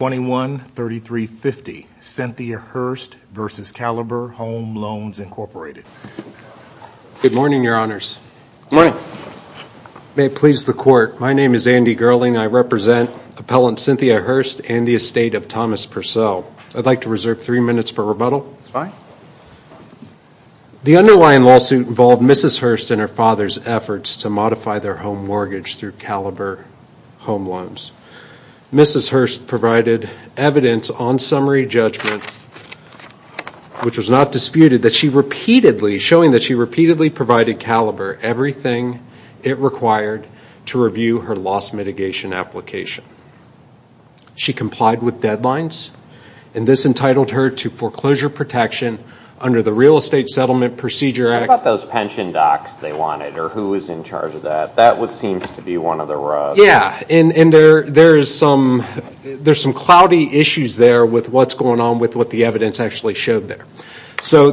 21-3350 Cynthia Hurst v. Caliber Home Loans, Inc. Good morning, Your Honors. Good morning. May it please the Court, my name is Andy Gerling. I represent Appellant Cynthia Hurst and the estate of Thomas Purcell. I'd like to reserve three minutes for rebuttal. Fine. The underlying lawsuit involved Mrs. Hurst and her father's efforts to modify their home mortgage through Caliber Home Loans. Mrs. Hurst provided evidence on summary judgment, which was not disputed, showing that she repeatedly provided Caliber everything it required to review her loss mitigation application. She complied with deadlines, and this entitled her to foreclosure protection under the Real Estate Settlement Procedure Act. How about those pension docs they wanted, or who was in charge of that? That seems to be one of the rugs. Yeah, and there's some cloudy issues there with what's going on with what the evidence actually showed there.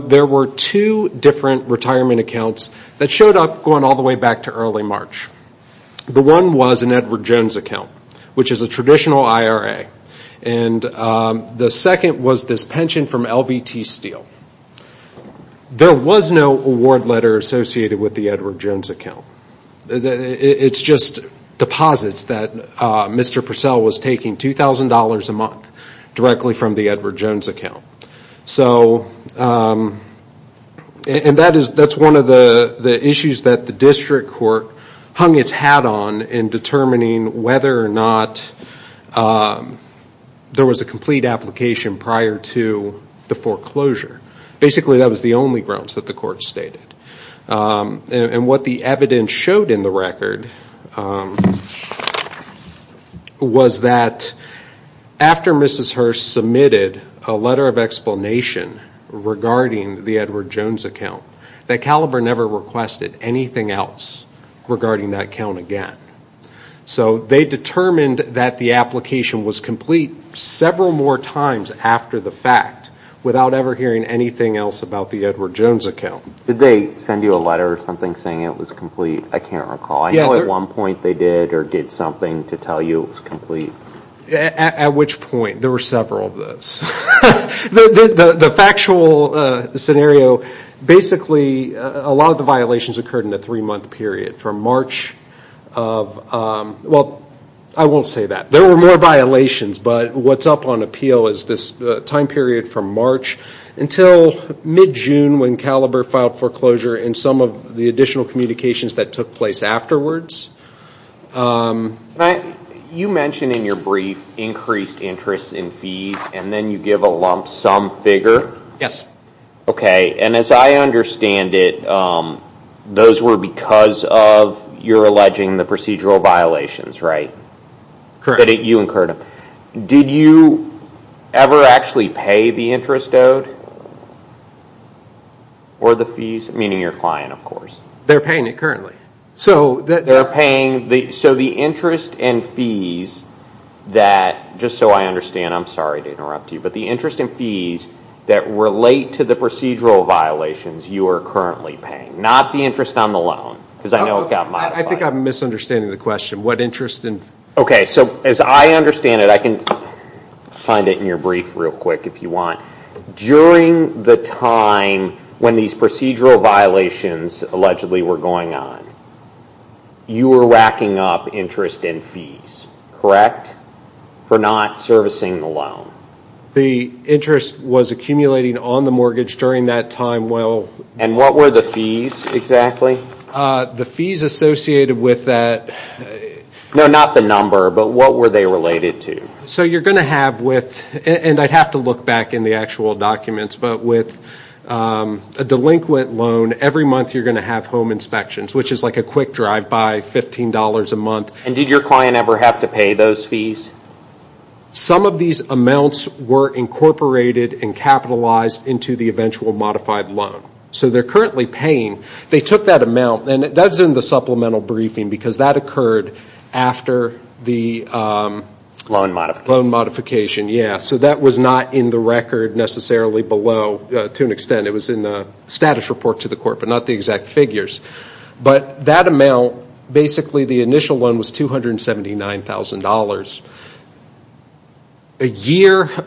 There were two different retirement accounts that showed up going all the way back to early March. The one was an Edward Jones account, which is a traditional IRA. The second was this pension from LVT Steel. There was no award letter associated with the Edward Jones account. It's just deposits that Mr. Purcell was taking, $2,000 a month, directly from the Edward Jones account. That's one of the issues that the district court hung its hat on in determining whether or not there was a complete application prior to the foreclosure. Basically, that was the only grounds that the court stated. What the evidence showed in the record was that after Mrs. Hurst submitted a letter of explanation regarding the Edward Jones account, that Caliber never requested anything else regarding that account again. So they determined that the application was complete several more times after the fact, without ever hearing anything else about the Edward Jones account. Did they send you a letter or something saying it was complete? I can't recall. I know at one point they did or did something to tell you it was complete. At which point? There were several of those. The factual scenario, basically, a lot of the violations occurred in a three-month period. From March of, well, I won't say that. There were more violations, but what's up on appeal is this time period from March until mid-June when Caliber filed foreclosure and some of the additional communications that took place afterwards. You mentioned in your brief increased interest in fees and then you give a lump sum figure. Yes. As I understand it, those were because of your alleging the procedural violations, right? Correct. Did you ever actually pay the interest owed or the fees, meaning your client, of course? They're paying it currently. They're paying. So the interest and fees that, just so I understand, I'm sorry to interrupt you, but the interest and fees that relate to the procedural violations you are currently paying, not the interest on the loan, because I know it got modified. I think I'm misunderstanding the question. Okay, so as I understand it, I can find it in your brief real quick if you want. During the time when these procedural violations allegedly were going on, you were racking up interest and fees, correct, for not servicing the loan? The interest was accumulating on the mortgage during that time. And what were the fees exactly? The fees associated with that. No, not the number, but what were they related to? So you're going to have with, and I'd have to look back in the actual documents, but with a delinquent loan, every month you're going to have home inspections, which is like a quick drive by $15 a month. And did your client ever have to pay those fees? Some of these amounts were incorporated and capitalized into the eventual modified loan. So they're currently paying. They took that amount, and that's in the supplemental briefing, because that occurred after the loan modification. So that was not in the record necessarily below, to an extent. It was in the status report to the court, but not the exact figures. But that amount, basically the initial one, was $279,000.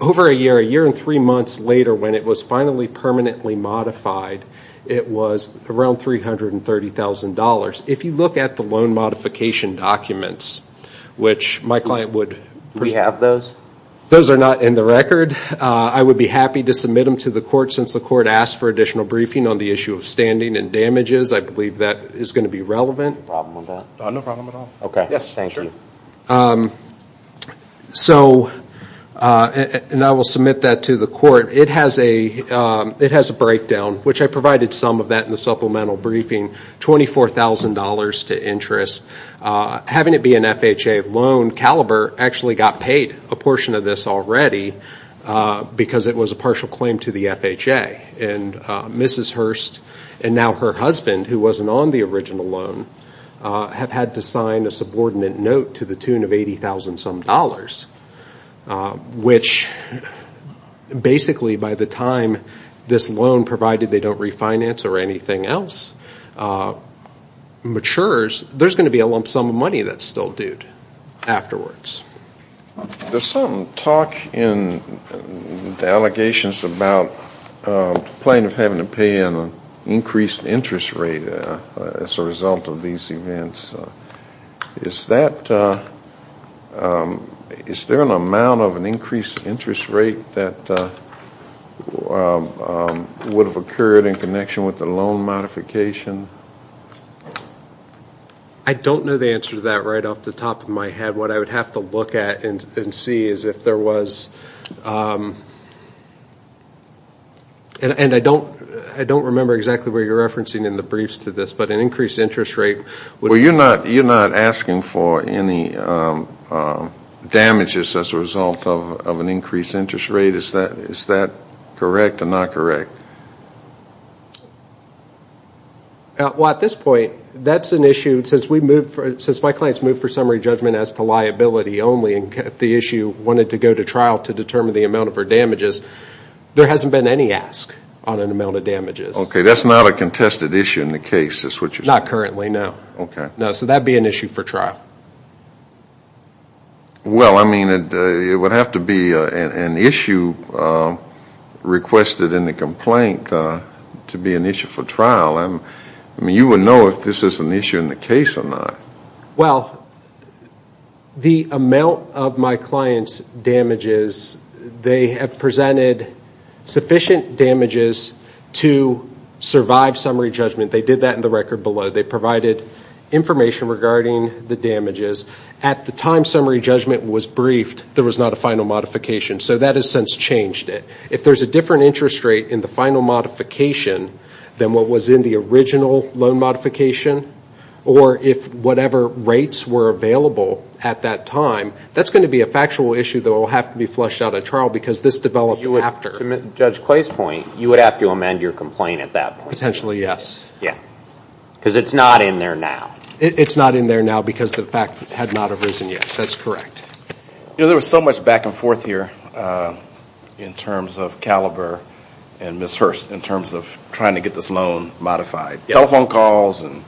Over a year, a year and three months later, when it was finally permanently modified, it was around $330,000. If you look at the loan modification documents, which my client would... Do we have those? Those are not in the record. I would be happy to submit them to the court, since the court asked for additional briefing on the issue of standing and damages. I believe that is going to be relevant. No problem with that. No problem at all. Okay, thank you. So, and I will submit that to the court. It has a breakdown, which I provided some of that in the supplemental briefing. $24,000 to interest. Having it be an FHA loan, Caliber actually got paid a portion of this already, because it was a partial claim to the FHA. And Mrs. Hurst and now her husband, who wasn't on the original loan, have had to sign a subordinate note to the tune of $80,000-some, which basically by the time this loan, provided they don't refinance or anything else, matures, there's going to be a lump sum of money that's still due afterwards. There's some talk and allegations about the plaintiff having to pay an increased interest rate as a result of these events. Is there an amount of an increased interest rate that would have occurred in connection with the loan modification? I don't know the answer to that right off the top of my head. What I would have to look at and see is if there was, and I don't remember exactly what you're referencing in the briefs to this, but an increased interest rate. Well, you're not asking for any damages as a result of an increased interest rate. Is that correct or not correct? Well, at this point, that's an issue. Since my client's moved for summary judgment as to liability only, and the issue wanted to go to trial to determine the amount of her damages, there hasn't been any ask on an amount of damages. Okay, that's not a contested issue in the case is what you're saying? Not currently, no. Okay. No, so that would be an issue for trial. Well, I mean, it would have to be an issue requested in the complaint to be an issue for trial. I mean, you would know if this is an issue in the case or not. Well, the amount of my client's damages, they have presented sufficient damages to survive summary judgment. They did that in the record below. They provided information regarding the damages. At the time summary judgment was briefed, there was not a final modification, so that has since changed it. If there's a different interest rate in the final modification than what was in the original loan modification, or if whatever rates were available at that time, that's going to be a factual issue that will have to be flushed out at trial because this developed after. To Judge Clay's point, you would have to amend your complaint at that point. Potentially, yes. Yes, because it's not in there now. It's not in there now because the fact had not arisen yet. That's correct. You know, there was so much back and forth here in terms of Caliber and Ms. Hurst in terms of trying to get this loan modified, telephone calls and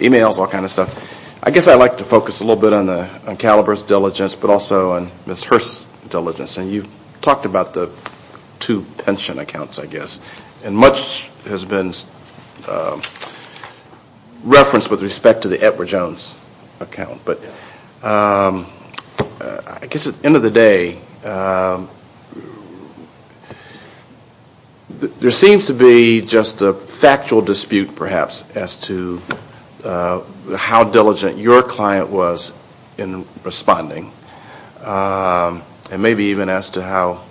e-mails, all kinds of stuff. I guess I'd like to focus a little bit on Caliber's diligence, but also on Ms. Hurst's diligence. You talked about the two pension accounts, I guess, and much has been referenced with respect to the Edward Jones account. But I guess at the end of the day, there seems to be just a factual dispute, perhaps, as to how diligent your client was in responding, and maybe even as to how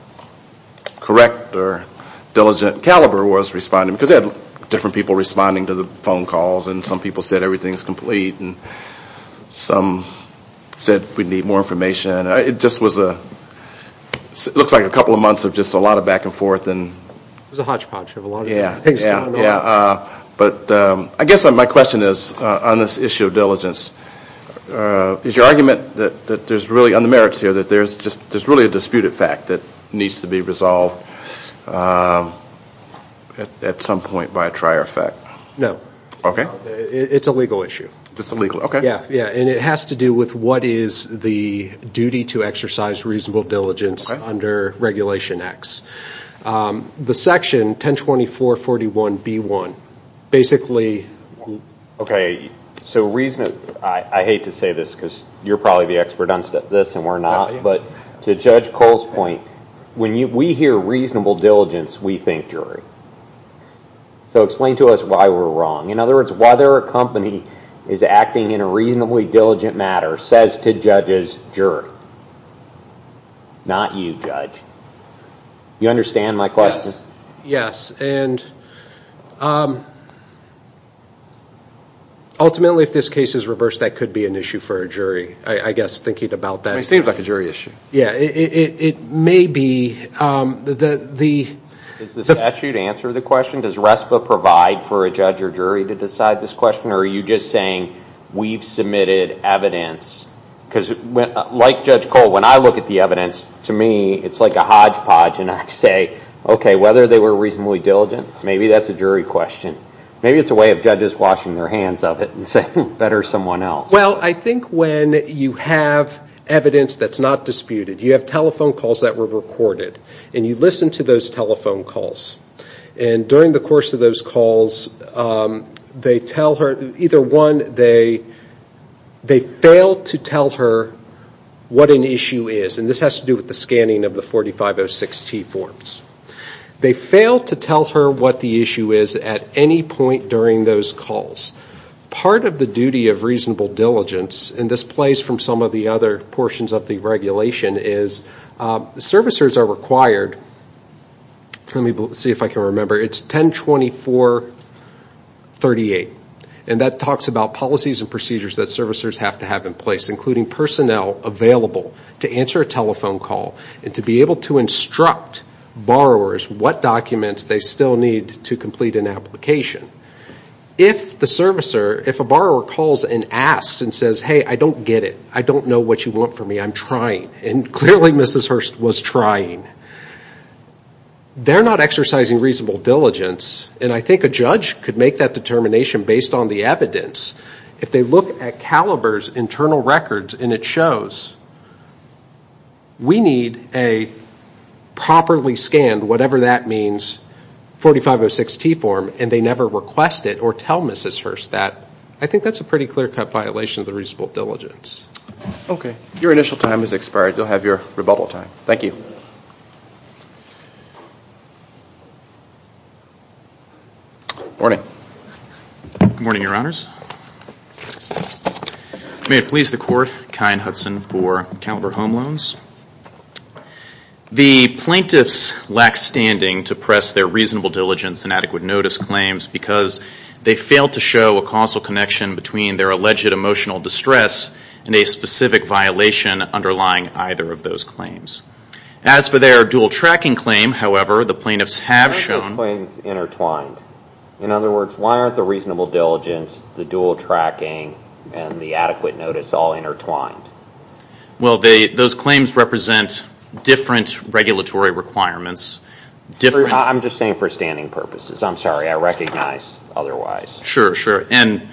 correct or diligent Caliber was responding because they had different people responding to the phone calls and some people said everything's complete and some said we need more information. It just looks like a couple of months of just a lot of back and forth. It was a hodgepodge of a lot of things going on. But I guess my question is, on this issue of diligence, is your argument that there's really, on the merits here, that there's really a disputed fact that needs to be resolved at some point by a trier effect? No. Okay. It's a legal issue. It's a legal issue, okay. Yeah, and it has to do with what is the duty to exercise reasonable diligence under Regulation X. The section 1024.41b.1, basically... Okay, so reason... I hate to say this because you're probably the expert on this and we're not, but to Judge Cole's point, when we hear reasonable diligence, we think jury. So explain to us why we're wrong. In other words, whether a company is acting in a reasonably diligent matter says to judges, jury. Not you, Judge. You understand my question? Yes, and ultimately if this case is reversed, that could be an issue for a jury. I guess thinking about that... It seems like a jury issue. Yeah, it may be. Does the statute answer the question? Does RESPA provide for a judge or jury to decide this question, or are you just saying we've submitted evidence? Because like Judge Cole, when I look at the evidence, to me it's like a hodgepodge, and I say, okay, whether they were reasonably diligent, maybe that's a jury question. Maybe it's a way of judges washing their hands of it and saying, better someone else. Well, I think when you have evidence that's not disputed, you have telephone calls that were recorded, and you listen to those telephone calls. And during the course of those calls, they tell her, either one, they fail to tell her what an issue is. And this has to do with the scanning of the 4506T forms. They fail to tell her what the issue is at any point during those calls. Part of the duty of reasonable diligence, and this plays from some of the other portions of the regulation, is servicers are required, let me see if I can remember, it's 1024.38. And that talks about policies and procedures that servicers have to have in place, including personnel available to answer a telephone call and to be able to instruct borrowers what documents they still need to complete an application. If the servicer, if a borrower calls and asks and says, hey, I don't get it, I don't know what you want from me, I'm trying. And clearly Mrs. Hurst was trying. They're not exercising reasonable diligence, and I think a judge could make that determination based on the evidence. If they look at Caliber's internal records and it shows, we need a properly scanned, whatever that means, 4506T form, and they never request it or tell Mrs. Hurst that, I think that's a pretty clear-cut violation of the reasonable diligence. Okay, your initial time has expired. You'll have your rebuttal time. Thank you. Morning. Good morning, Your Honors. May it please the Court, Kyne Hudson for Caliber Home Loans. The plaintiffs lack standing to press their reasonable diligence and adequate notice claims because they fail to show a causal connection between their alleged emotional distress and a specific violation underlying either of those claims. As for their dual tracking claim, however, the plaintiffs have shown Why aren't the claims intertwined? In other words, why aren't the reasonable diligence, the dual tracking, and the adequate notice all intertwined? Well, those claims represent different regulatory requirements. I'm just saying for standing purposes. I'm sorry, I recognize otherwise. Sure, sure. And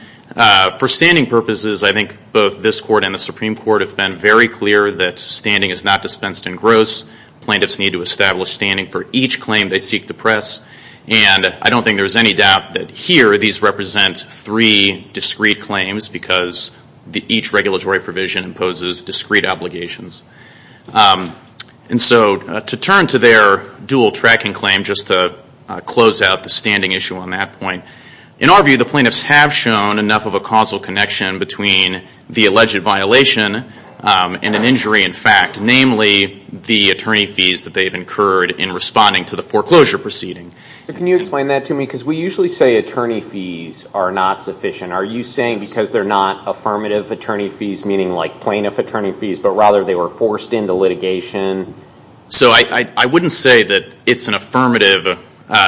for standing purposes, I think both this Court and the Supreme Court have been very clear that standing is not dispensed in gross. Plaintiffs need to establish standing for each claim they seek to press. And I don't think there's any doubt that here these represent three discrete claims because each regulatory provision imposes discrete obligations. And so to turn to their dual tracking claim, just to close out the standing issue on that point, in our view the plaintiffs have shown enough of a causal connection between the alleged violation and an injury in fact, namely the attorney fees that they've incurred in responding to the foreclosure proceeding. Can you explain that to me? Because we usually say attorney fees are not sufficient. Are you saying because they're not affirmative attorney fees, meaning like plaintiff attorney fees, but rather they were forced into litigation? So I wouldn't say that it's an affirmative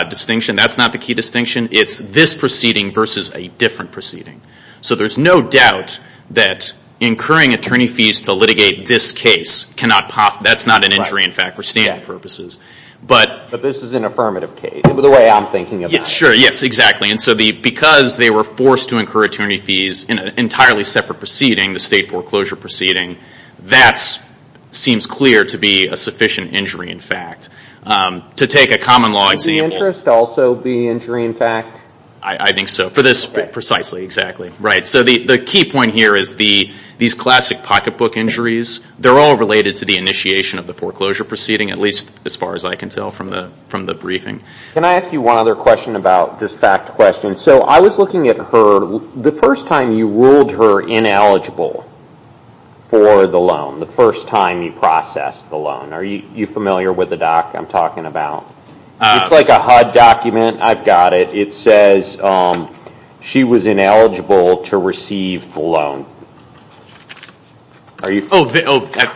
distinction. That's not the key distinction. It's this proceeding versus a different proceeding. So there's no doubt that incurring attorney fees to litigate this case, that's not an injury in fact for standing purposes. But this is an affirmative case, the way I'm thinking about it. Sure, yes, exactly. And so because they were forced to incur attorney fees in an entirely separate proceeding, the state foreclosure proceeding, that seems clear to be a sufficient injury in fact. To take a common law example. Should the interest also be injury in fact? I think so. For this precisely, exactly. So the key point here is these classic pocketbook injuries, they're all related to the initiation of the foreclosure proceeding, at least as far as I can tell from the briefing. Can I ask you one other question about this fact question? So I was looking at her, the first time you ruled her ineligible for the loan, the first time you processed the loan. Are you familiar with the doc I'm talking about? It's like a HUD document. I've got it. It says she was ineligible to receive the loan. Oh,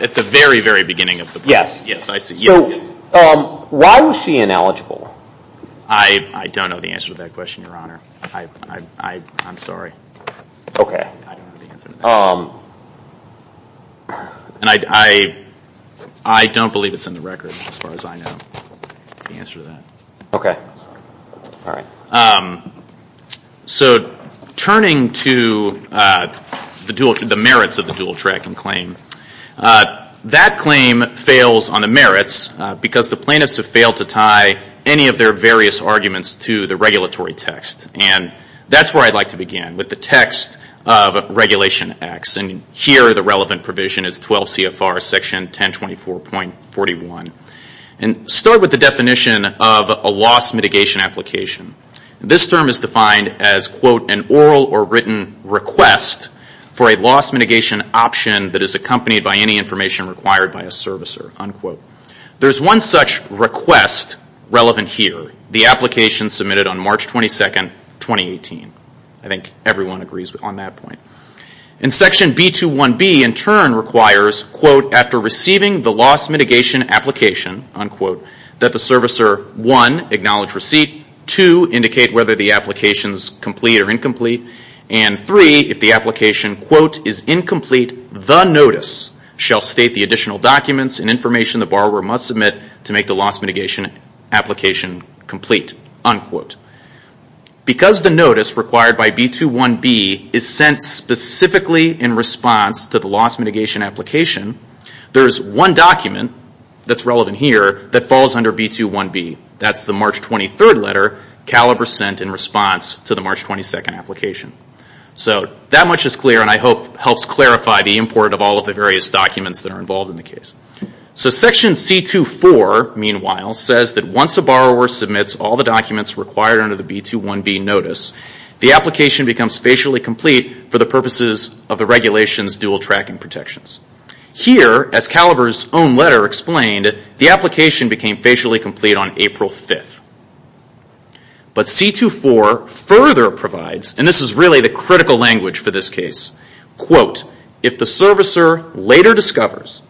at the very, very beginning of the process. Yes. Yes, I see. Why was she ineligible? I don't know the answer to that question, Your Honor. I'm sorry. Okay. I don't know the answer to that. And I don't believe it's in the record as far as I know the answer to that. Okay. All right. So turning to the merits of the dual tracking claim, that claim fails on the merits because the plaintiffs have failed to tie any of their various arguments to the regulatory text. And that's where I'd like to begin, with the text of Regulation X. And here the relevant provision is 12 CFR Section 1024.41. And start with the definition of a loss mitigation application. This term is defined as, quote, an oral or written request for a loss mitigation option that is accompanied by any information required by a servicer, unquote. There's one such request relevant here, the application submitted on March 22, 2018. I think everyone agrees on that point. And Section B21B in turn requires, quote, after receiving the loss mitigation application, unquote, that the servicer, one, acknowledge receipt, two, indicate whether the application is complete or incomplete, and three, if the application, quote, is incomplete, the notice shall state the additional documents and information the borrower must submit to make the loss mitigation application complete, unquote. Because the notice required by B21B is sent specifically in response to the loss mitigation application, there is one document that's relevant here that falls under B21B. That's the March 23 letter Caliber sent in response to the March 22 application. So that much is clear and I hope helps clarify the import of all of the various documents that are involved in the case. So Section C24, meanwhile, says that once a borrower submits all the documents required under the B21B notice, the application becomes facially complete for the purposes of the regulation's dual tracking protections. Here, as Caliber's own letter explained, the application became facially complete on April 5th. But C24 further provides, and this is really the critical language for this case, quote, if the servicer later discovers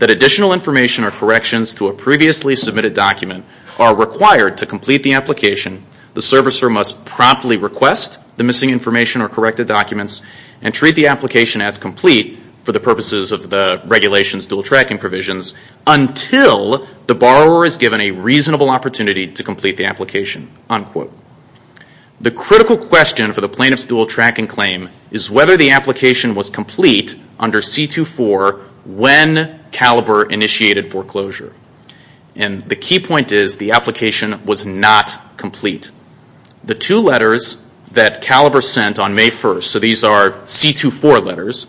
that additional information or corrections to a previously submitted document are required to complete the application, the servicer must promptly request the missing information or corrected documents and treat the application as complete for the purposes of the regulation's dual tracking provisions until the borrower is given a reasonable opportunity to complete the application, unquote. The critical question for the plaintiff's dual tracking claim is whether the application was complete under C24 when Caliber initiated foreclosure. And the key point is the application was not complete. The two letters that Caliber sent on May 1st, so these are C24 letters,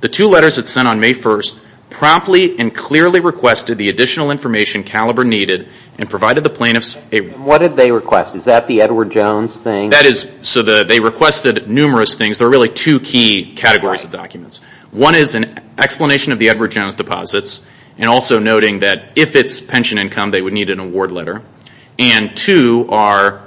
the two letters it sent on May 1st promptly and clearly requested the additional information Caliber needed and provided the plaintiffs a... And what did they request? Is that the Edward Jones thing? That is, so they requested numerous things. There are really two key categories of documents. One is an explanation of the Edward Jones deposits and also noting that if it's pension income, they would need an award letter. And two are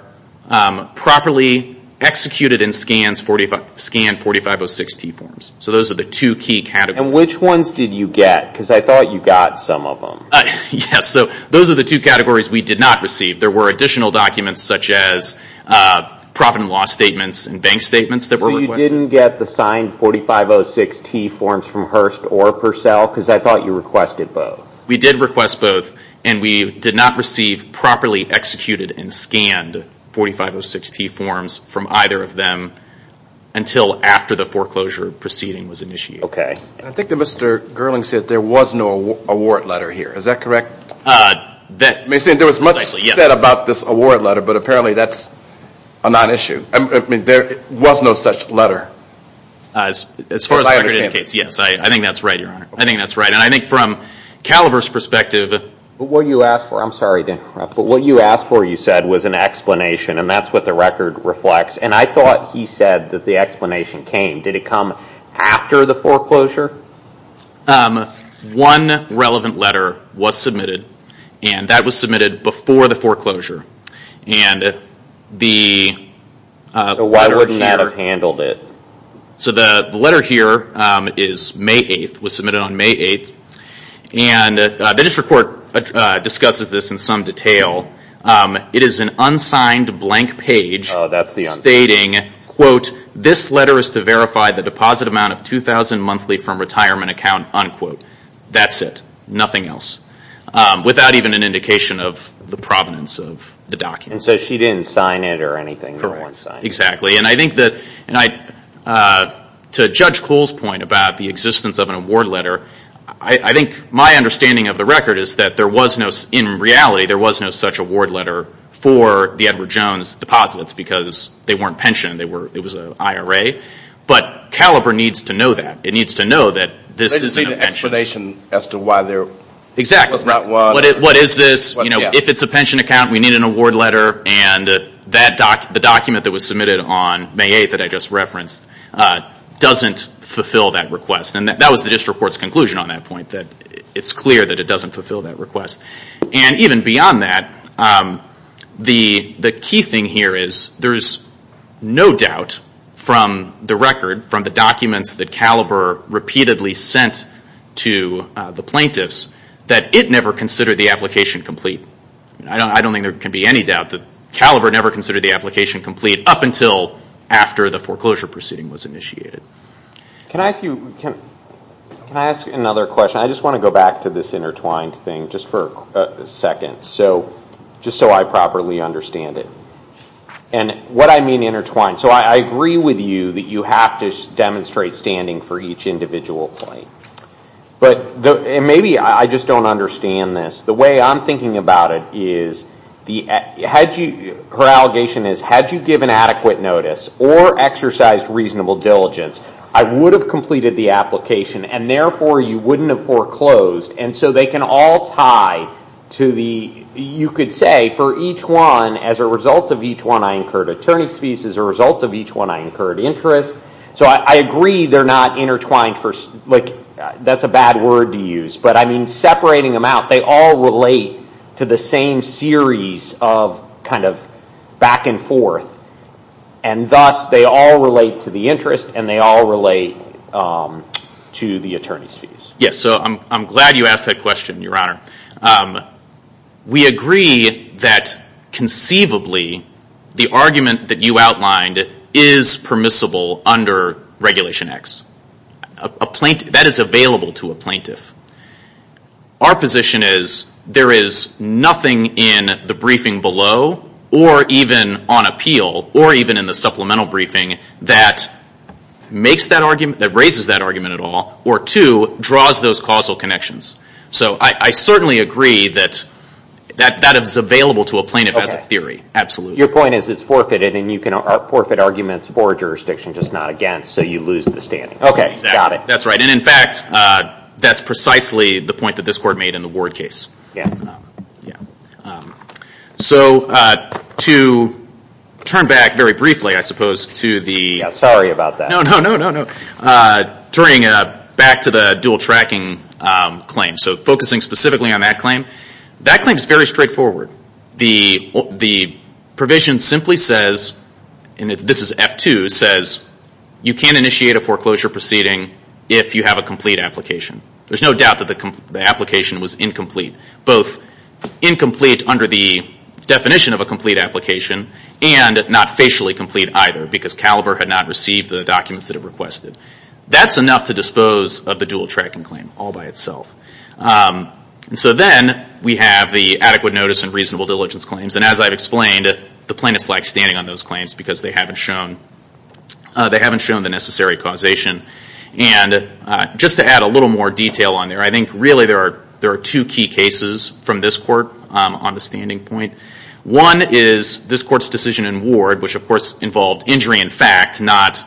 properly executed in scanned 4506-T forms. So those are the two key categories. And which ones did you get? Because I thought you got some of them. Yes, so those are the two categories we did not receive. There were additional documents such as profit and loss statements and bank statements that were requested. So you didn't get the signed 4506-T forms from Hearst or Purcell? Because I thought you requested both. We did request both and we did not receive properly executed and scanned 4506-T forms from either of them until after the foreclosure proceeding was initiated. Okay. I think that Mr. Gerling said there was no award letter here. Is that correct? There was much said about this award letter, but apparently that's a non-issue. There was no such letter. As far as the record indicates, yes, I think that's right, Your Honor. I think that's right. And I think from Calaver's perspective... What you asked for, I'm sorry to interrupt, but what you asked for, you said, was an explanation. And that's what the record reflects. And I thought he said that the explanation came. Did it come after the foreclosure? One relevant letter was submitted, and that was submitted before the foreclosure. And the letter here... So why wouldn't that have handled it? So the letter here is May 8th, was submitted on May 8th. And the district court discusses this in some detail. It is an unsigned blank page stating, quote, this letter is to verify the deposit amount of $2,000 monthly from retirement account, unquote. That's it. Nothing else. Without even an indication of the provenance of the document. And so she didn't sign it or anything? Correct. Exactly. And I think that to Judge Kuhl's point about the existence of an award letter, I think my understanding of the record is that there was no... In reality, there was no such award letter for the Edward Jones deposits because they weren't pension. It was an IRA. But Caliber needs to know that. It needs to know that this isn't a pension. They just need an explanation as to why there was not one. Exactly. What is this? If it's a pension account, we need an award letter. And the document that was submitted on May 8th that I just referenced doesn't fulfill that request. And that was the district court's conclusion on that point, that it's clear that it doesn't fulfill that request. And even beyond that, the key thing here is there's no doubt from the record, from the documents that Caliber repeatedly sent to the plaintiffs, that it never considered the application complete. I don't think there can be any doubt that Caliber never considered the application complete up until after the foreclosure proceeding was initiated. Can I ask you another question? I just want to go back to this intertwined thing just for a second, just so I properly understand it. And what I mean intertwined, so I agree with you that you have to demonstrate standing for each individual claim. But maybe I just don't understand this. The way I'm thinking about it is, her allegation is, had you given adequate notice or exercised reasonable diligence, I would have completed the application, and therefore you wouldn't have foreclosed. And so they can all tie to the, you could say, for each one, as a result of each one I incurred attorney's fees, as a result of each one I incurred interest. So I agree they're not intertwined. That's a bad word to use. But I mean, separating them out, they all relate to the same series of back and forth. And thus they all relate to the interest and they all relate to the attorney's fees. Yes, so I'm glad you asked that question, Your Honor. We agree that conceivably the argument that you outlined is permissible under Regulation X. That is available to a plaintiff. Our position is, there is nothing in the briefing below, or even on appeal, or even in the supplemental briefing, that makes that argument, that raises that argument at all, or two, draws those causal connections. So I certainly agree that that is available to a plaintiff as a theory. Your point is it's forfeited and you can forfeit arguments for a jurisdiction, just not against, so you lose the standing. Okay, got it. That's right. And in fact, that's precisely the point that this Court made in the Ward case. So to turn back very briefly, I suppose, to the... Sorry about that. No, no, no. Turning back to the dual tracking claim. So focusing specifically on that claim. That claim is very straightforward. The provision simply says, and this is F2, says, you can initiate a foreclosure proceeding if you have a complete application. There's no doubt that the application was incomplete, both incomplete under the definition of a complete application and not facially complete either, because Caliber had not received the documents that it requested. That's enough to dispose of the dual tracking claim all by itself. And so then we have the adequate notice and reasonable diligence claims. And as I've explained, the plaintiffs lack standing on those claims because they haven't shown the necessary causation. And just to add a little more detail on there, I think really there are two key cases from this Court on the standing point. One is this Court's decision in Ward, which of course involved injury in fact, not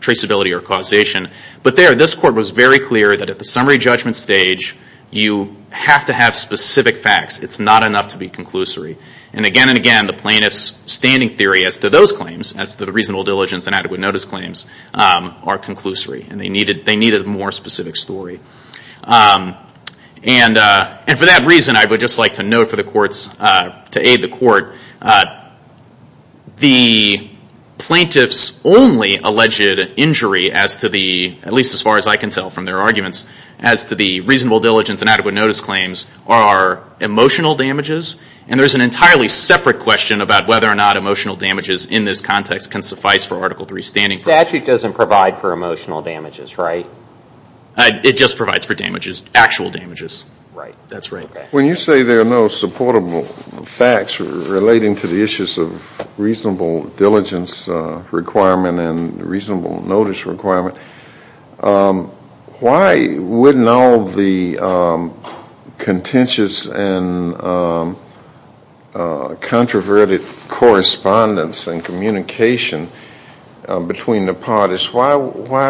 traceability or causation. But there, this Court was very clear that at the summary judgment stage, you have to have specific facts. It's not enough to be conclusory. And again and again, the plaintiffs' standing theory as to those claims, as to the reasonable diligence and adequate notice claims, are conclusory. And they needed a more specific story. And for that reason, I would just like to note for the Courts, to aid the Court, the plaintiffs' only alleged injury as to the, at least as far as I can tell from their arguments, as to the reasonable diligence and adequate notice claims are emotional damages. And there's an entirely separate question about whether or not emotional damages in this context can suffice for Article III standing. The statute doesn't provide for emotional damages, right? It just provides for damages, actual damages. Right. That's right. When you say there are no supportable facts relating to the issues of reasonable diligence requirement and reasonable notice requirement, why wouldn't all the contentious and controverted correspondence and communication between the parties, why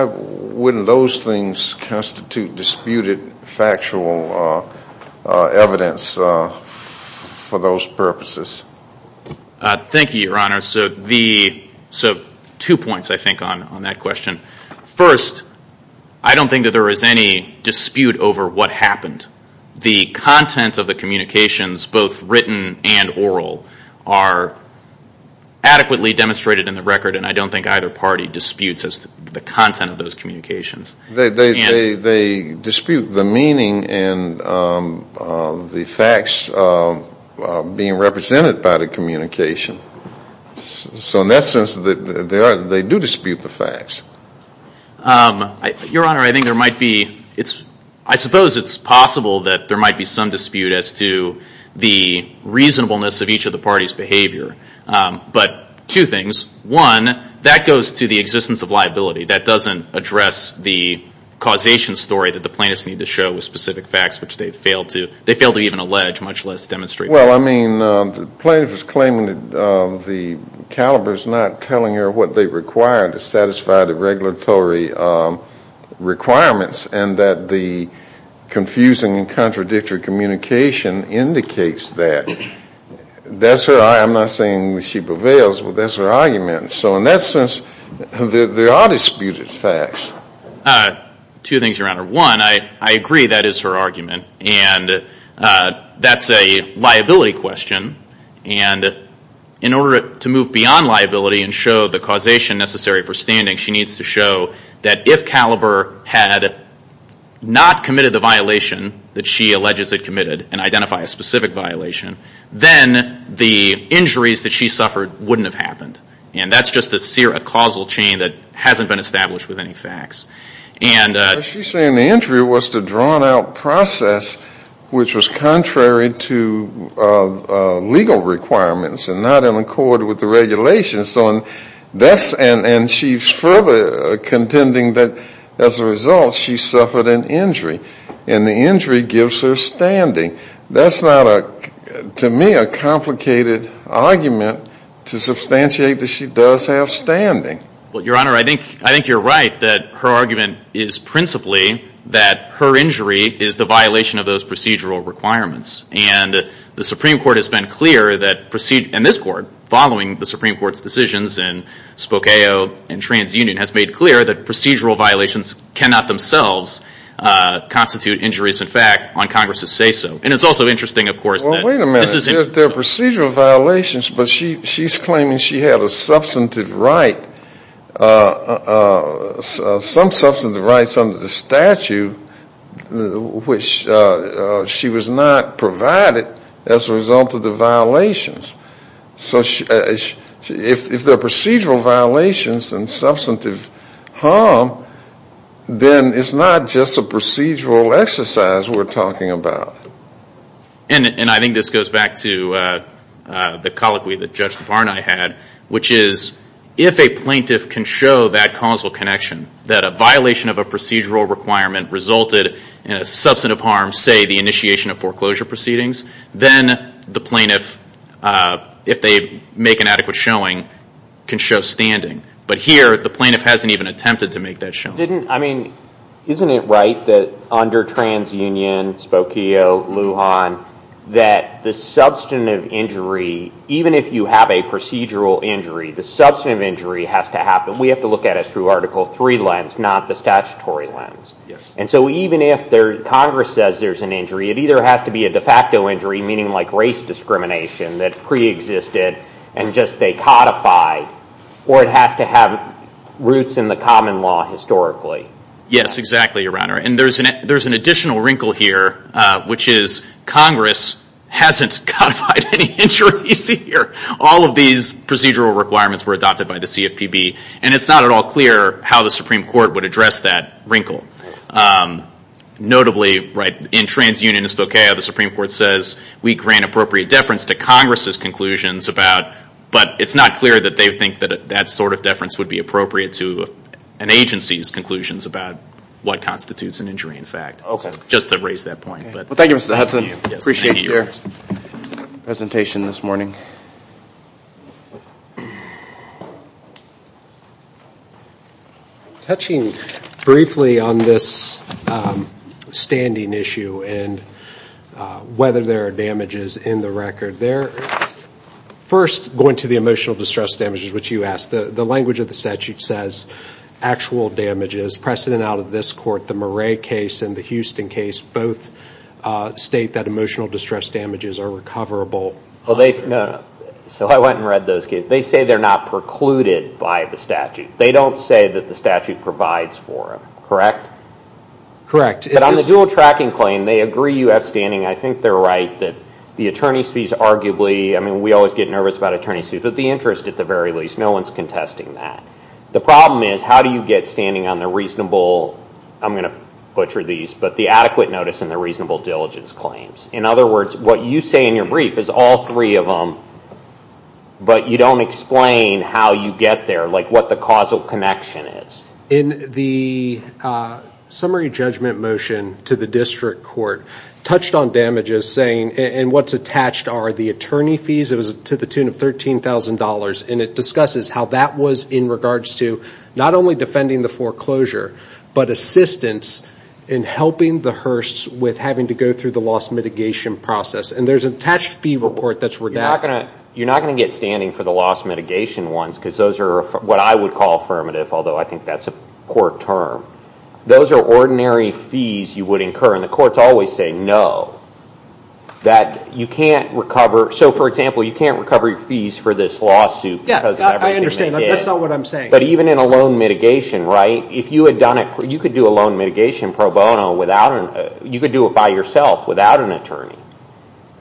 wouldn't those things constitute disputed factual evidence for those purposes? Thank you, Your Honor. So two points, I think, on that question. First, I don't think that there is any dispute over what happened. The content of the communications, both written and oral, are adequately demonstrated in the record, and I don't think either party disputes the content of those communications. They dispute the meaning and the facts being represented by the communication. So in that sense, they do dispute the facts. Your Honor, I think there might be, I suppose it's possible that there might be some dispute as to the reasonableness of each of the parties' behavior. But two things. One, that goes to the existence of liability. That doesn't address the causation story that the plaintiffs need to show with specific facts, which they failed to even allege, much less demonstrate. Well, I mean, the plaintiff is claiming that the caliber is not telling her what they require to satisfy the regulatory requirements, and that the confusing and contradictory communication indicates that. I'm not saying that she prevails, but that's her argument. So in that sense, there are disputed facts. Two things, Your Honor. One, I agree that is her argument, and that's a liability question. And in order to move beyond liability and show the causation necessary for standing, she needs to show that if caliber had not committed the violation that she alleges it committed and identify a specific violation, then the injuries that she suffered wouldn't have happened. And that's just a causal chain that hasn't been established with any facts. She's saying the injury was the drawn-out process, which was contrary to legal requirements and not in accord with the regulations. And she's further contending that, as a result, she suffered an injury. And the injury gives her standing. That's not, to me, a complicated argument to substantiate that she does have standing. Well, Your Honor, I think you're right that her argument is principally that her injury is the violation of those procedural requirements. And the Supreme Court has been clear that, and this Court, following the Supreme Court's decisions in Spokeo and TransUnion, has made clear that procedural violations cannot themselves constitute injuries. In fact, on Congress's say-so. And it's also interesting, of course, that this is important. Well, wait a minute. They're procedural violations, but she's claiming she had a substantive right, some substantive rights under the statute which she was not provided as a result of the violations. So if they're procedural violations and substantive harm, then it's not just a procedural exercise we're talking about. And I think this goes back to the colloquy that Judge Farnay had, which is if a plaintiff can show that causal connection, that a violation of a procedural requirement resulted in a substantive harm, say the initiation of foreclosure proceedings, then the plaintiff, if they make an adequate showing, can show standing. But here, the plaintiff hasn't even attempted to make that showing. Isn't it right that under TransUnion, Spokeo, Lujan, that the substantive injury, even if you have a procedural injury, the substantive injury has to happen. We have to look at it through Article III lens, not the statutory lens. And so even if Congress says there's an injury, it either has to be a de facto injury, meaning like race discrimination that preexisted and just they codified, or it has to have roots in the common law historically. Yes, exactly, Your Honor. And there's an additional wrinkle here, which is Congress hasn't codified any injuries here. All of these procedural requirements were adopted by the CFPB, and it's not at all clear how the Supreme Court would address that wrinkle. Notably, in TransUnion and Spokeo, the Supreme Court says, we grant appropriate deference to Congress's conclusions about, but it's not clear that they think that that sort of deference would be appropriate to an agency's conclusions about what constitutes an injury, in fact. Okay. Just to raise that point. Well, thank you, Mr. Hudson. Appreciate your presentation this morning. Thank you. Touching briefly on this standing issue and whether there are damages in the record, first going to the emotional distress damages, which you asked, the language of the statute says actual damages, precedent out of this court, the Murray case and the Houston case both state that emotional distress damages are recoverable. So I went and read those cases. They say they're not precluded by the statute. They don't say that the statute provides for them, correct? Correct. But on the dual tracking claim, they agree you have standing. I think they're right that the attorney's fees arguably, I mean, we always get nervous about attorney's fees, but the interest at the very least, no one's contesting that. The problem is, how do you get standing on the reasonable, I'm going to butcher these, but the adequate notice and the reasonable diligence claims? In other words, what you say in your brief is all three of them, but you don't explain how you get there, like what the causal connection is. In the summary judgment motion to the district court, touched on damages saying, and what's attached are the attorney fees, it was to the tune of $13,000, and it discusses how that was in regards to not only defending the foreclosure, but assistance in helping the hearse with having to go through the loss mitigation process. And there's an attached fee report that's redacted. You're not going to get standing for the loss mitigation ones, because those are what I would call affirmative, although I think that's a poor term. Those are ordinary fees you would incur, and the courts always say no. That you can't recover, so for example, you can't recover your fees for this lawsuit. Yeah, I understand. That's not what I'm saying. But even in a loan mitigation, right, you could do a loan mitigation pro bono, you could do it by yourself without an attorney.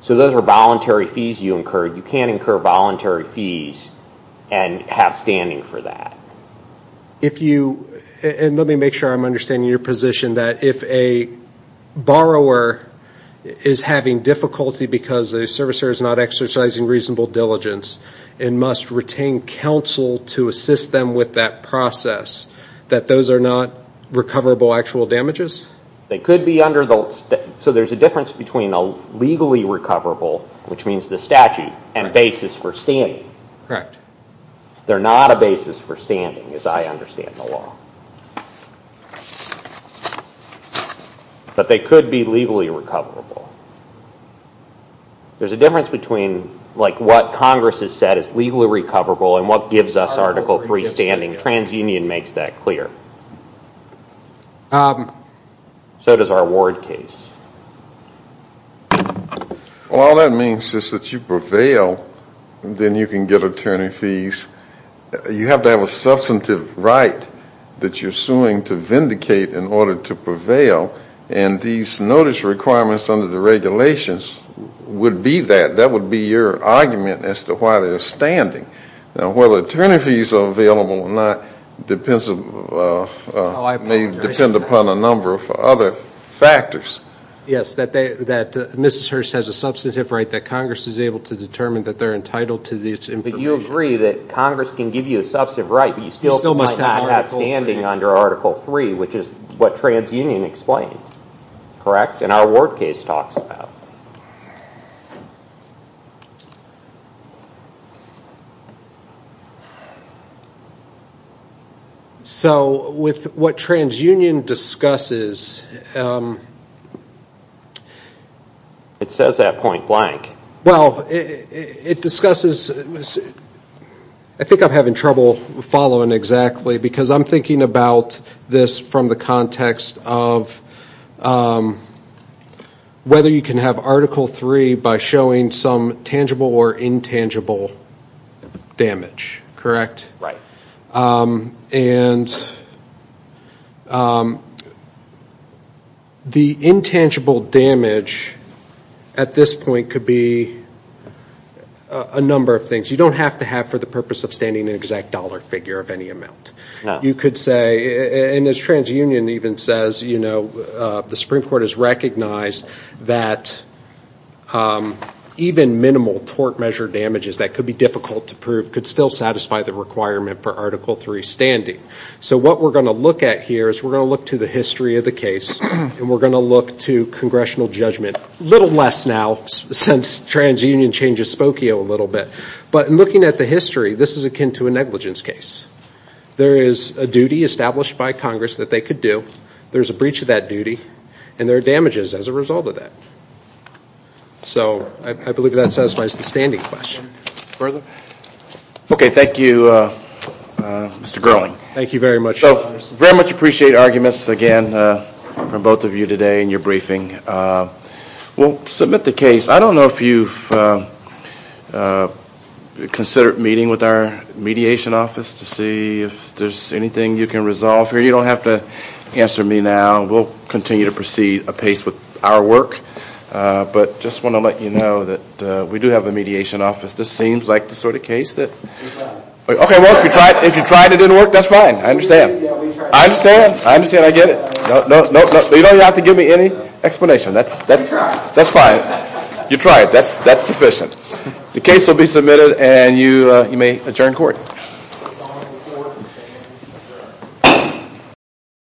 So those are voluntary fees you incur. You can't incur voluntary fees and have standing for that. Let me make sure I'm understanding your position, that if a borrower is having difficulty because the servicer is not exercising reasonable diligence and must retain counsel to assist them with that process, that those are not recoverable actual damages? They could be under the law. So there's a difference between a legally recoverable, which means the statute, and basis for standing. Correct. They're not a basis for standing, as I understand the law. But they could be legally recoverable. There's a difference between what Congress has said is legally recoverable and what gives us Article III standing. TransUnion makes that clear. So does our Ward case. Well, all that means is that you prevail, then you can get attorney fees. You have to have a substantive right that you're suing to vindicate in order to prevail, and these notice requirements under the regulations would be that. That would be your argument as to why they're standing. Now, whether attorney fees are available or not depends upon a number of other factors. Yes, that Mrs. Hirsch has a substantive right that Congress is able to determine that they're entitled to this information. But you agree that Congress can give you a substantive right, but you still might not have standing under Article III, which is what TransUnion explains. Correct? And our Ward case talks about. So with what TransUnion discusses, It says that point blank. It discusses, I think I'm having trouble following exactly, because I'm thinking about this from the context of whether you can have Article III by showing some tangible or intangible damage. Correct? Right. And the intangible damage at this point could be a number of things. You don't have to have for the purpose of standing an exact dollar figure of any amount. No. You could say, and as TransUnion even says, you know, the Supreme Court has recognized that even minimal tort measure damages that could be difficult to prove could still satisfy the requirement for Article III standing. So what we're going to look at here is we're going to look to the history of the case, and we're going to look to congressional judgment, a little less now since TransUnion changes Spokio a little bit. But in looking at the history, this is akin to a negligence case. There is a duty established by Congress that they could do. There's a breach of that duty, and there are damages as a result of that. So I believe that satisfies the standing question. Further? Okay. Thank you, Mr. Gerling. Thank you very much. So very much appreciate arguments, again, from both of you today in your briefing. We'll submit the case. I don't know if you've considered meeting with our mediation office to see if there's anything you can resolve here. You don't have to answer me now. We'll continue to proceed apace with our work. But just want to let you know that we do have a mediation office. This seems like the sort of case that... Okay, well, if you tried it, it didn't work, that's fine. I understand. I understand. I understand. I get it. You don't have to give me any explanation. That's fine. You tried. That's sufficient. The case will be submitted, and you may adjourn court.